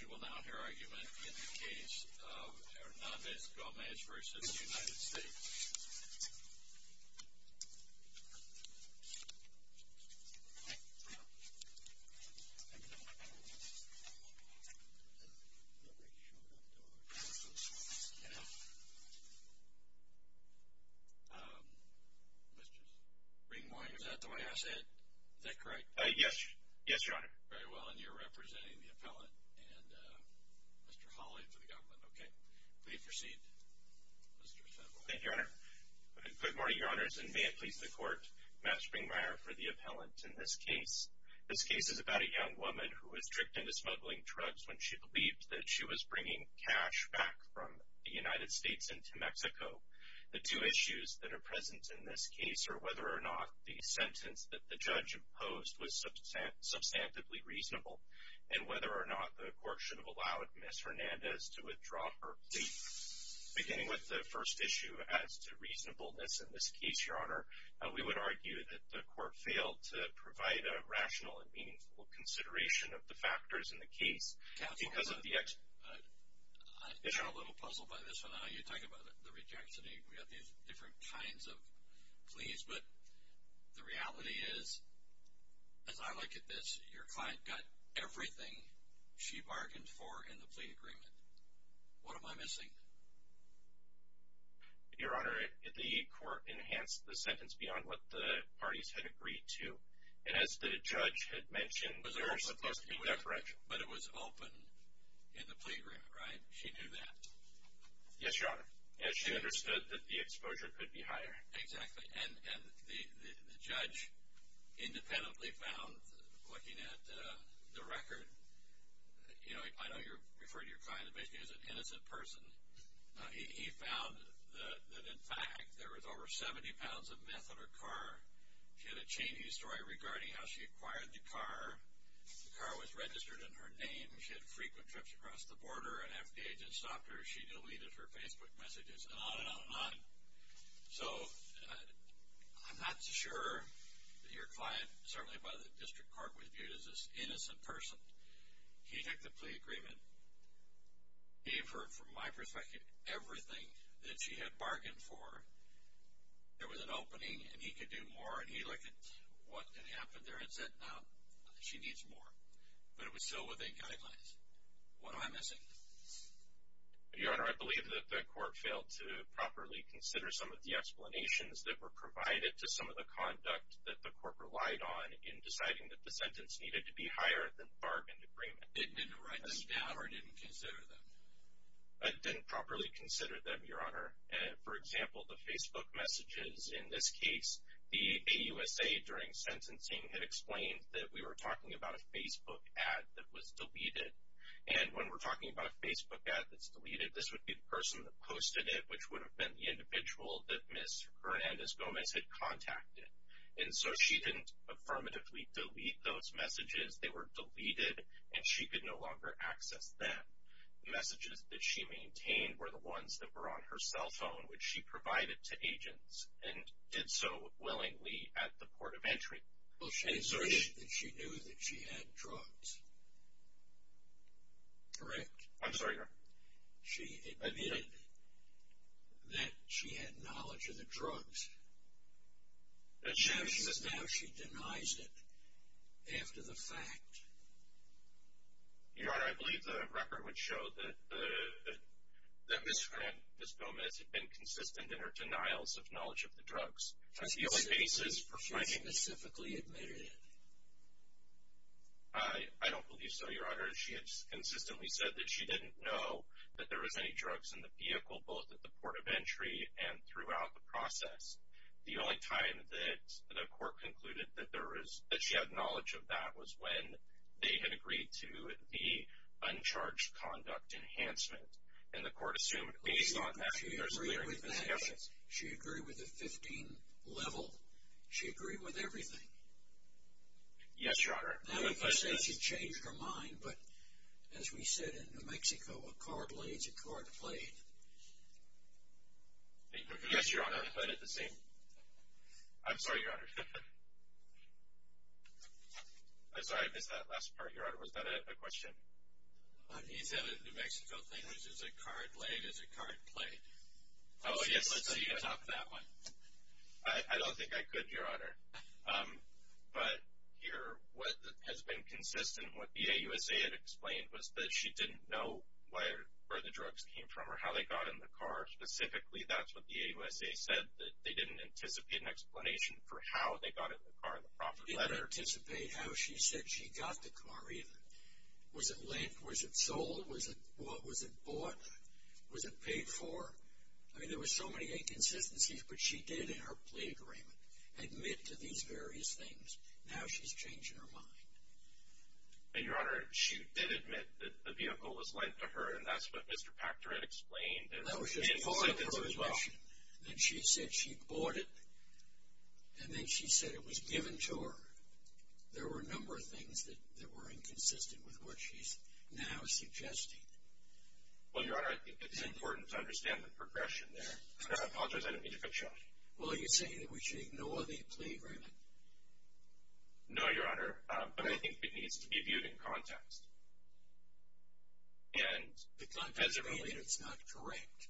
We will now hear argument in the case of Hernandez-Gomez v. United States. Mr. Ringwine, is that the way I say it? Is that correct? Yes, Your Honor. Very well. And you're representing the appellate and Mr. Hawley for the government. Okay. Please proceed, Mr. Federal. Thank you, Your Honor. Good morning, Your Honors, and may it please the Court, I'm Matt Springmeier for the appellant in this case. This case is about a young woman who was tricked into smuggling drugs when she believed that she was bringing cash back from the United States into Mexico. The two issues that are present in this case are whether or not the sentence that the judge imposed was substantively reasonable and whether or not the Court should have allowed Ms. Hernandez to withdraw her plea. Beginning with the first issue as to reasonableness in this case, Your Honor, we would argue that the Court failed to provide a rational and meaningful consideration of the factors in the case. Counselor, I'm a little puzzled by this one. You talk about the rejects, and we have these different kinds of pleas, but the reality is, as I look at this, your client got everything she bargained for in the plea agreement. What am I missing? Your Honor, the Court enhanced the sentence beyond what the parties had agreed to, and as the judge had mentioned, there are supposed to be no corrections. But it was open in the plea agreement, right? She knew that? Yes, Your Honor, as she understood that the exposure could be higher. Exactly, and the judge independently found, looking at the record, I know you refer to your client basically as an innocent person. He found that, in fact, there was over 70 pounds of meth in her car. She had a chain-ease story regarding how she acquired the car. The car was registered in her name. She had frequent trips across the border. An FDA agent stopped her. She deleted her Facebook messages, and on and on and on. So I'm not sure that your client, certainly by the District Court, was viewed as this innocent person. He took the plea agreement, gave her, from my perspective, everything that she had bargained for. There was an opening, and he could do more, and he looked at what had happened there and said, no, she needs more. But it was still within guidelines. What am I missing? Your Honor, I believe that the Court failed to properly consider some of the explanations that were provided to some of the conduct that the Court relied on in deciding that the sentence needed to be higher than the bargain agreement. It didn't write this down or didn't consider them? It didn't properly consider them, Your Honor. For example, the Facebook messages. In this case, the AUSA, during sentencing, had explained that we were talking about a Facebook ad that was deleted. And when we're talking about a Facebook ad that's deleted, this would be the person that posted it, which would have been the individual that Ms. Hernandez-Gomez had contacted. And so she didn't affirmatively delete those messages. They were deleted, and she could no longer access them. The messages that she maintained were the ones that were on her cell phone, which she provided to agents and did so willingly at the port of entry. Well, she asserted that she knew that she had drugs. Correct? I'm sorry, Your Honor. She admitted that she had knowledge of the drugs. Now she denies it after the fact. Your Honor, I believe the record would show that Ms. Hernandez-Gomez had been consistent in her denials of knowledge of the drugs. She specifically admitted it? I don't believe so, Your Honor. She had consistently said that she didn't know that there was any drugs in the vehicle, both at the port of entry and throughout the process. The only time that the court concluded that she had knowledge of that was when they had agreed to the Uncharged Conduct Enhancement. And the court assumed, based on that, that there was a clear inconsistency. She agreed with that. She agreed with the 15 level. She agreed with everything. Yes, Your Honor. Now we can say she changed her mind. But as we said in New Mexico, a card laid is a card played. Yes, Your Honor. I thought it was the same. I'm sorry, Your Honor. I'm sorry, I missed that last part, Your Honor. Was that a question? He said a New Mexico thing, which is a card laid is a card played. Oh, yes. Let's see the top of that one. I don't think I could, Your Honor. But here, what has been consistent, what the AUSA had explained was that she didn't know where the drugs came from or how they got in the car. Specifically, that's what the AUSA said, that they didn't anticipate an explanation for how they got in the car in the profit letter. Didn't anticipate how she said she got the car either. Was it lent? Was it sold? Was it bought? Was it paid for? I mean, there were so many inconsistencies, but she did in her plea agreement admit to these various things. Now she's changing her mind. And, Your Honor, she did admit that the vehicle was lent to her, and that's what Mr. Pachter had explained. That was just part of her admission. Then she said she bought it, and then she said it was given to her. There were a number of things that were inconsistent with what she's now suggesting. Well, Your Honor, I think it's important to understand the progression there. I apologize. I didn't mean to cut you off. Well, are you saying that we should ignore the plea agreement? No, Your Honor. But I think it needs to be viewed in context. And as it relates, it's not correct.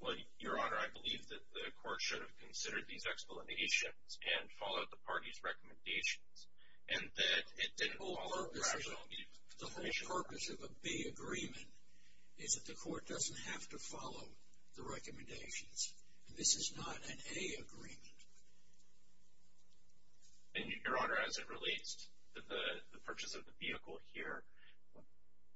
Well, Your Honor, I believe that the court should have considered these explanations and followed the party's recommendations. And that it didn't follow the rationale. The whole purpose of a B agreement is that the court doesn't have to follow the recommendations. And this is not an A agreement. And, Your Honor, as it relates to the purchase of the vehicle here,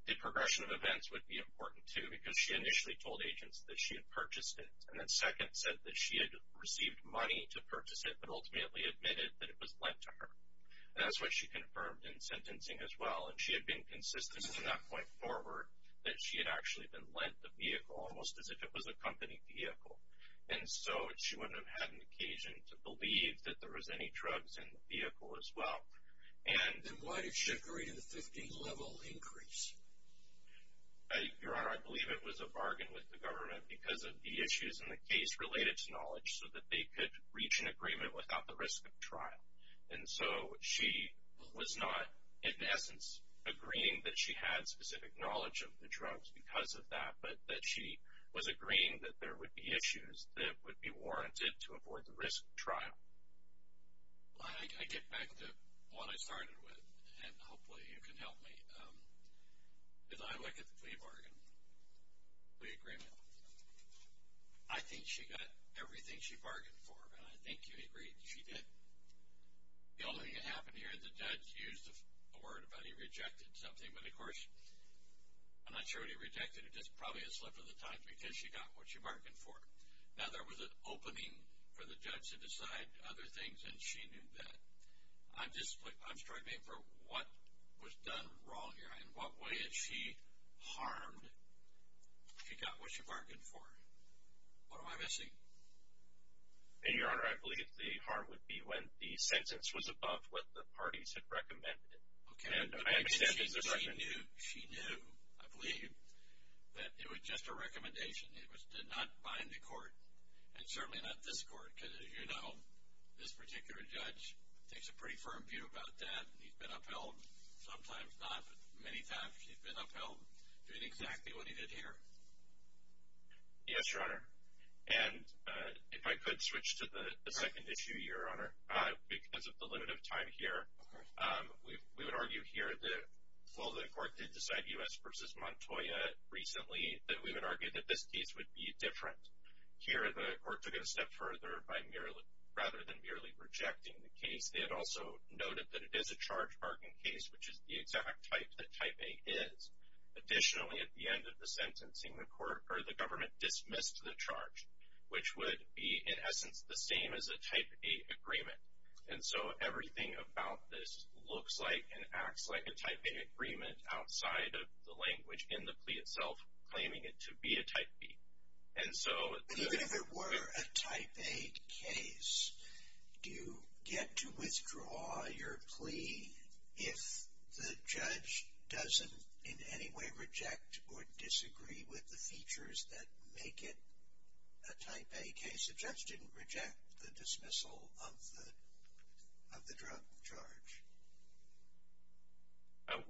the progression of events would be important, too, because she initially told agents that she had purchased it, and then second said that she had received money to purchase it, but ultimately admitted that it was lent to her. And that's what she confirmed in sentencing as well. And she had been consistent from that point forward that she had actually been lent the vehicle almost as if it was a company vehicle. And so she wouldn't have had an occasion to believe that there was any drugs in the vehicle as well. And why did she agree to the 15-level increase? Your Honor, I believe it was a bargain with the government because of the issues in the case related to knowledge so that they could reach an agreement without the risk of trial. And so she was not, in essence, agreeing that she had specific knowledge of the drugs because of that, but that she was agreeing that there would be issues that would be warranted to avoid the risk of trial. I get back to what I started with, and hopefully you can help me. As I look at the plea bargain, plea agreement, I think she got everything she bargained for. And I think you agreed that she did. The only thing that happened here, the judge used the word about he rejected something. But, of course, I'm not sure what he rejected. It's probably a slip of the tongue because she got what she bargained for. Now, there was an opening for the judge to decide other things, and she knew that. I'm struggling for what was done wrong here. In what way had she harmed? She got what she bargained for. What am I missing? Your Honor, I believe the harm would be when the sentence was above what the parties had recommended. Okay. She knew, I believe, that it was just a recommendation. It did not bind the court, and certainly not this court, because, as you know, this particular judge takes a pretty firm view about that. He's been upheld, sometimes not, but many times he's been upheld doing exactly what he did here. Yes, Your Honor. And if I could switch to the second issue, Your Honor, because of the limit of time here. Okay. We would argue here that while the court did decide U.S. v. Montoya recently, that we would argue that this case would be different. Here the court took it a step further by rather than merely rejecting the case, they had also noted that it is a charge-bargaining case, which is the exact type that Type A is. Additionally, at the end of the sentencing, the government dismissed the charge, which would be in essence the same as a Type A agreement. And so everything about this looks like and acts like a Type A agreement outside of the language in the plea itself, claiming it to be a Type B. Even if it were a Type A case, do you get to withdraw your plea if the judge doesn't in any way reject or disagree with the features that make it a Type A case? The judge didn't reject the dismissal of the drug charge.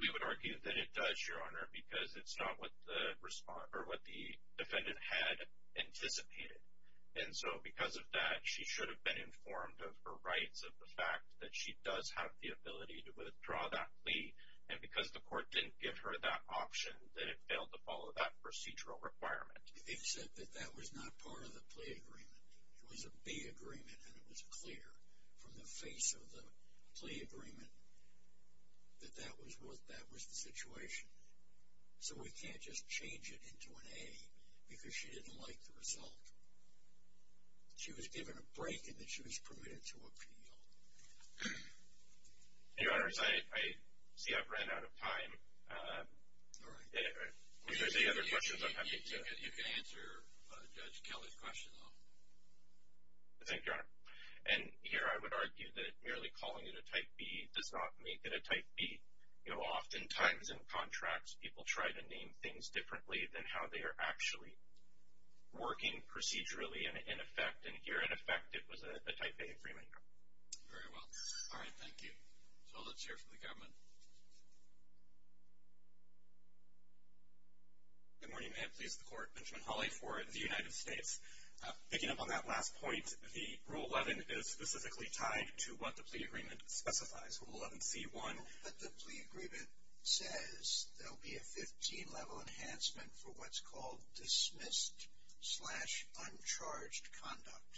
We would argue that it does, Your Honor, because it's not what the defendant had anticipated. And so because of that, she should have been informed of her rights, of the fact that she does have the ability to withdraw that plea. And because the court didn't give her that option, then it failed to follow that procedural requirement. The defendant said that that was not part of the plea agreement. It was a B agreement and it was clear from the face of the plea agreement that that was the situation. So we can't just change it into an A because she didn't like the result. She was given a break and then she was permitted to appeal. Your Honor, I see I've ran out of time. If there's any other questions, I'm happy to answer Judge Kelly's question. Thank you, Your Honor. And here I would argue that merely calling it a Type B does not make it a Type B. You know, oftentimes in contracts, people try to name things differently than how they are actually working procedurally and in effect. And here, in effect, it was a Type A agreement. Very well. All right, thank you. So let's hear from the government. Good morning, may it please the Court. Benjamin Hawley for the United States. Picking up on that last point, the Rule 11 is specifically tied to what the plea agreement specifies, Rule 11C1. The plea agreement says there will be a 15-level enhancement for what's called dismissed slash uncharged conduct.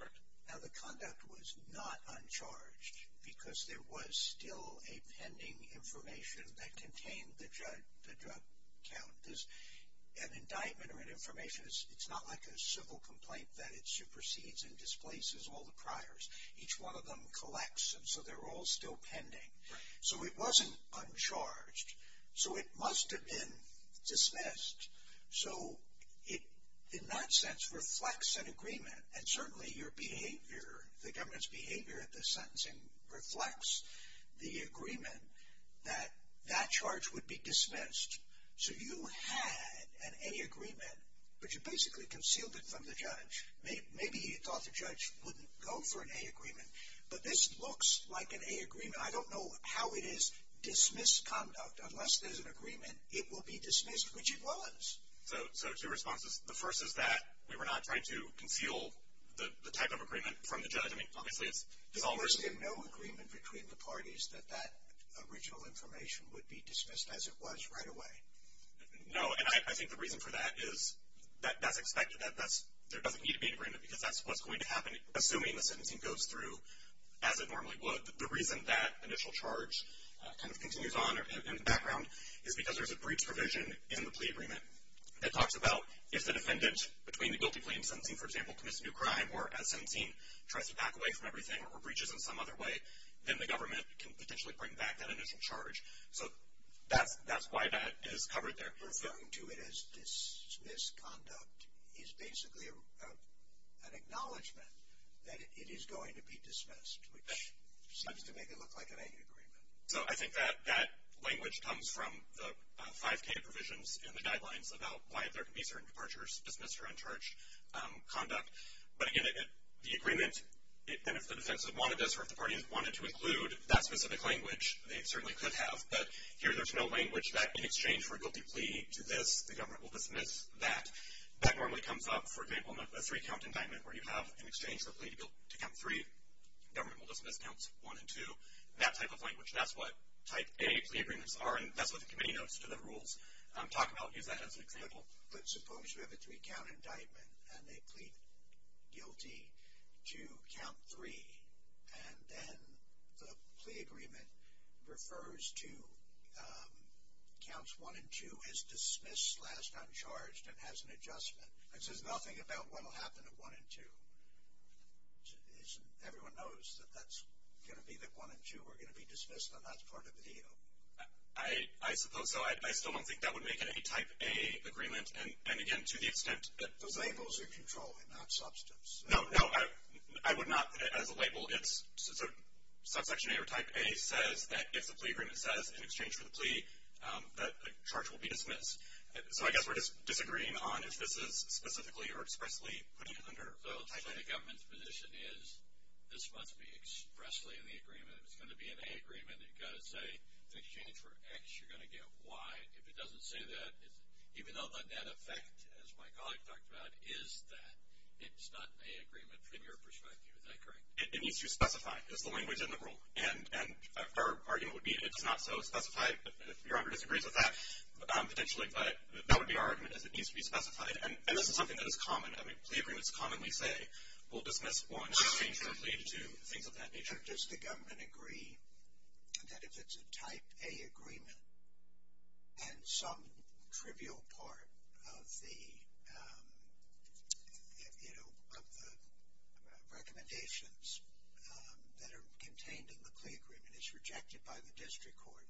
Right. Now, the conduct was not uncharged because there was still a pending information that contained the drug count. An indictment or an information, it's not like a civil complaint that it supersedes and displaces all the priors. Each one of them collects them, so they're all still pending. Right. So it wasn't uncharged. So it must have been dismissed. So it, in that sense, reflects an agreement. And certainly your behavior, the government's behavior at this sentencing, reflects the agreement that that charge would be dismissed. So you had an A agreement, but you basically concealed it from the judge. Maybe you thought the judge wouldn't go for an A agreement, but this looks like an A agreement. I don't know how it is. Dismissed conduct, unless there's an agreement, it will be dismissed, which it was. So two responses. The first is that we were not trying to conceal the type of agreement from the judge. I mean, obviously it's almost. There's no agreement between the parties that that original information would be dismissed as it was right away. No, and I think the reason for that is that that's expected. There doesn't need to be an agreement because that's what's going to happen, assuming the sentencing goes through as it normally would. The reason that initial charge kind of continues on in the background is because there's a breach provision in the plea agreement that talks about if the defendant, between the guilty plea and sentencing, for example, commits a new crime or as sentencing tries to back away from everything or breaches in some other way, then the government can potentially bring back that initial charge. So that's why that is covered there. Referring to it as dismissed conduct is basically an acknowledgement that it is going to be dismissed, which seems to make it look like an A agreement. So I think that that language comes from the 5K provisions in the guidelines about why there can be certain departures, dismissed or uncharged conduct. But again, the agreement, and if the defense had wanted this or if the parties wanted to include that specific language, they certainly could have. But here there's no language that in exchange for a guilty plea to this, the government will dismiss that. That normally comes up, for example, in a three-count indictment where you have in exchange for a plea to count three, government will dismiss counts one and two. That type of language, that's what type A plea agreements are, and that's what the committee notes to the rules. I'm talking about using that as an example. But suppose you have a three-count indictment and they plead guilty to count three, and then the plea agreement refers to counts one and two as dismissed, last uncharged, and has an adjustment. It says nothing about what will happen at one and two. Everyone knows that that's going to be that one and two are going to be dismissed and that's part of the deal. I suppose so. I still don't think that would make it a type A agreement. And again, to the extent that the labels are controlled and not substance. No, no, I would not as a label. Subsection A or type A says that if the plea agreement says in exchange for the plea that the charge will be dismissed. So I guess we're just disagreeing on if this is specifically or expressly putting it under type A. So the government's position is this must be expressly in the agreement. If it's going to be an A agreement, you've got to say in exchange for X, you're going to get Y. If it doesn't say that, even though the net effect, as my colleague talked about, is that it's not an A agreement from your perspective. Is that correct? It needs to specify. It's the language in the rule. And our argument would be it's not so specified. If your honor disagrees with that, potentially, but that would be our argument is it needs to be specified. And this is something that is common. I mean, plea agreements commonly say we'll dismiss one exchange for a plea to do things of that nature. Does the government agree that if it's a type A agreement and some trivial part of the, you know, of the recommendations that are contained in the plea agreement is rejected by the district court,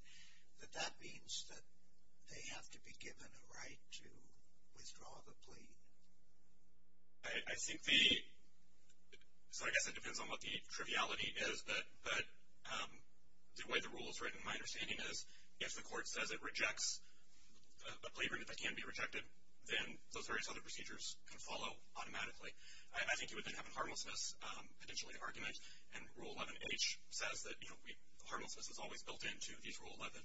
that that means that they have to be given a right to withdraw the plea? I think the, so I guess it depends on what the triviality is, but the way the rule is written, my understanding is if the court says it rejects a plea agreement that can be rejected, then those various other procedures can follow automatically. I think you would then have a harmlessness potentially argument. And Rule 11H says that, you know, harmlessness is always built into these Rule 11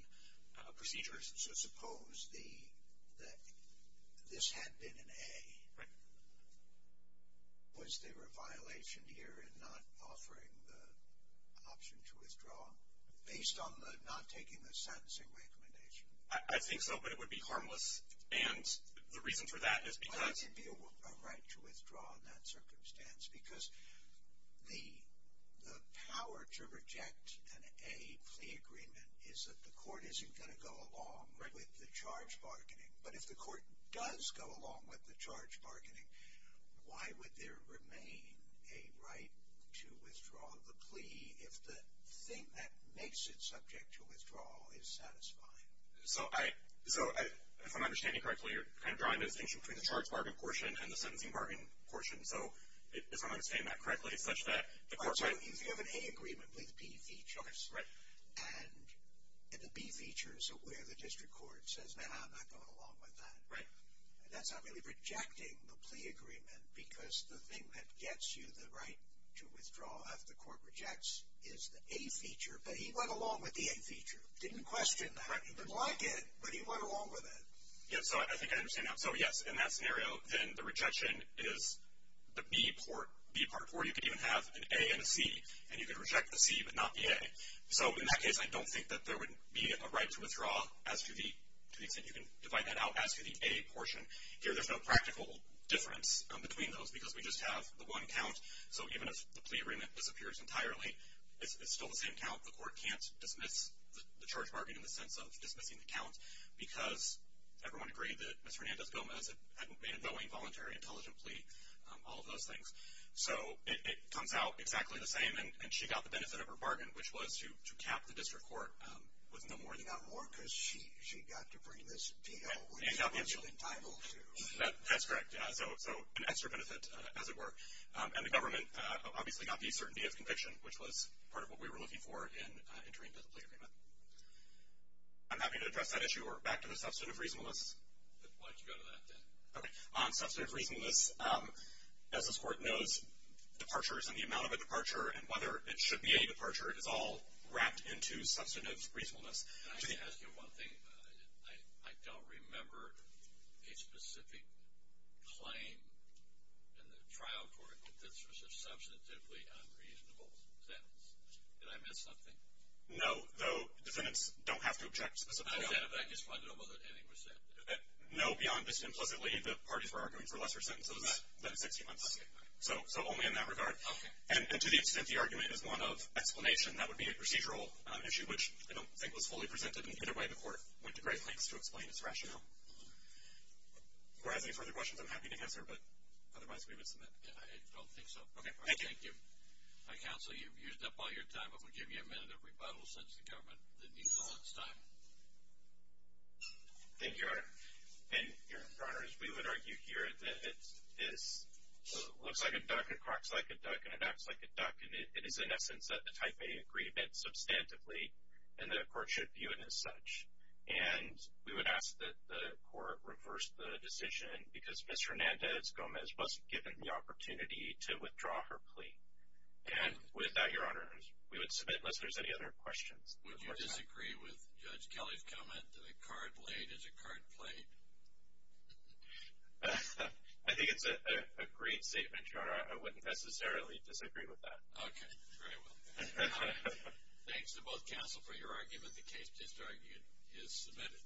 procedures. So suppose the, that this had been an A. Right. Was there a violation here in not offering the option to withdraw based on the not taking the sentencing recommendation? I think so, but it would be harmless. And the reason for that is because. Why would there be a right to withdraw in that circumstance? Because the power to reject an A plea agreement is that the court isn't going to go along with the charge bargaining. But if the court does go along with the charge bargaining, why would there remain a right to withdraw the plea if the thing that makes it subject to withdrawal is satisfying? So if I'm understanding correctly, you're kind of drawing the distinction between the charge bargaining portion and the sentencing bargaining portion. So if I'm understanding that correctly, it's such that the court might. If you have an A agreement with B features. Right. And the B features are where the district court says, no, I'm not going along with that. Right. That's not really rejecting the plea agreement because the thing that gets you the right to withdraw if the court rejects is the A feature. But he went along with the A feature. He didn't question that. Right. He didn't like it, but he went along with it. Yeah. So I think I understand that. So, yes, in that scenario, then the rejection is the B part where you could even have an A and a C. And you could reject the C but not the A. So in that case, I don't think that there would be a right to withdraw as to the extent you can divide that out as to the A portion. Here there's no practical difference between those because we just have the one count. So even if the plea agreement disappears entirely, it's still the same count. The court can't dismiss the charge bargain in the sense of dismissing the count because everyone agreed that Ms. Hernandez-Gomez had made a knowing, voluntary, intelligent plea, all of those things. So it comes out exactly the same, and she got the benefit of her bargain, which was to cap the district court with no more than that. Not more because she got to bring this deal, which she wasn't entitled to. That's correct. So an extra benefit, as it were. And the government obviously got the certainty of conviction, which was part of what we were looking for in entering into the plea agreement. I'm happy to address that issue. We're back to the substantive reasonableness. Why don't you go to that then? Okay. Substantive reasonableness. As this court knows, departures and the amount of a departure and whether it should be a departure, it is all wrapped into substantive reasonableness. Can I just ask you one thing? I don't remember a specific claim in the trial court that this was a substantively unreasonable sentence. Did I miss something? No, though defendants don't have to object specifically. Is that if I just find out whether anything was said? No, beyond just implicitly the parties were arguing for lesser sentences than 60 months. So only in that regard. Okay. And to the extent the argument is one of explanation, that would be a procedural issue, which I don't think was fully presented in either way. The court went to great lengths to explain its rationale. If you have any further questions, I'm happy to answer, but otherwise we would submit. I don't think so. Okay. Thank you. Counsel, you've used up all your time. I'm going to give you a minute of rebuttal since the government didn't use all its time. Thank you, Your Honor. And, Your Honor, as we would argue here, it looks like a duck, it croaks like a duck, and it acts like a duck. And it is, in essence, a type A agreement substantively, and the court should view it as such. And we would ask that the court reverse the decision because Ms. Hernandez-Gomez was given the opportunity to withdraw her plea. And with that, Your Honor, we would submit unless there's any other questions. Would you disagree with Judge Kelly's comment that a card laid is a card played? I think it's a great statement, Your Honor. I wouldn't necessarily disagree with that. Okay. Very well. Thanks to both counsel for your argument. The case is submitted.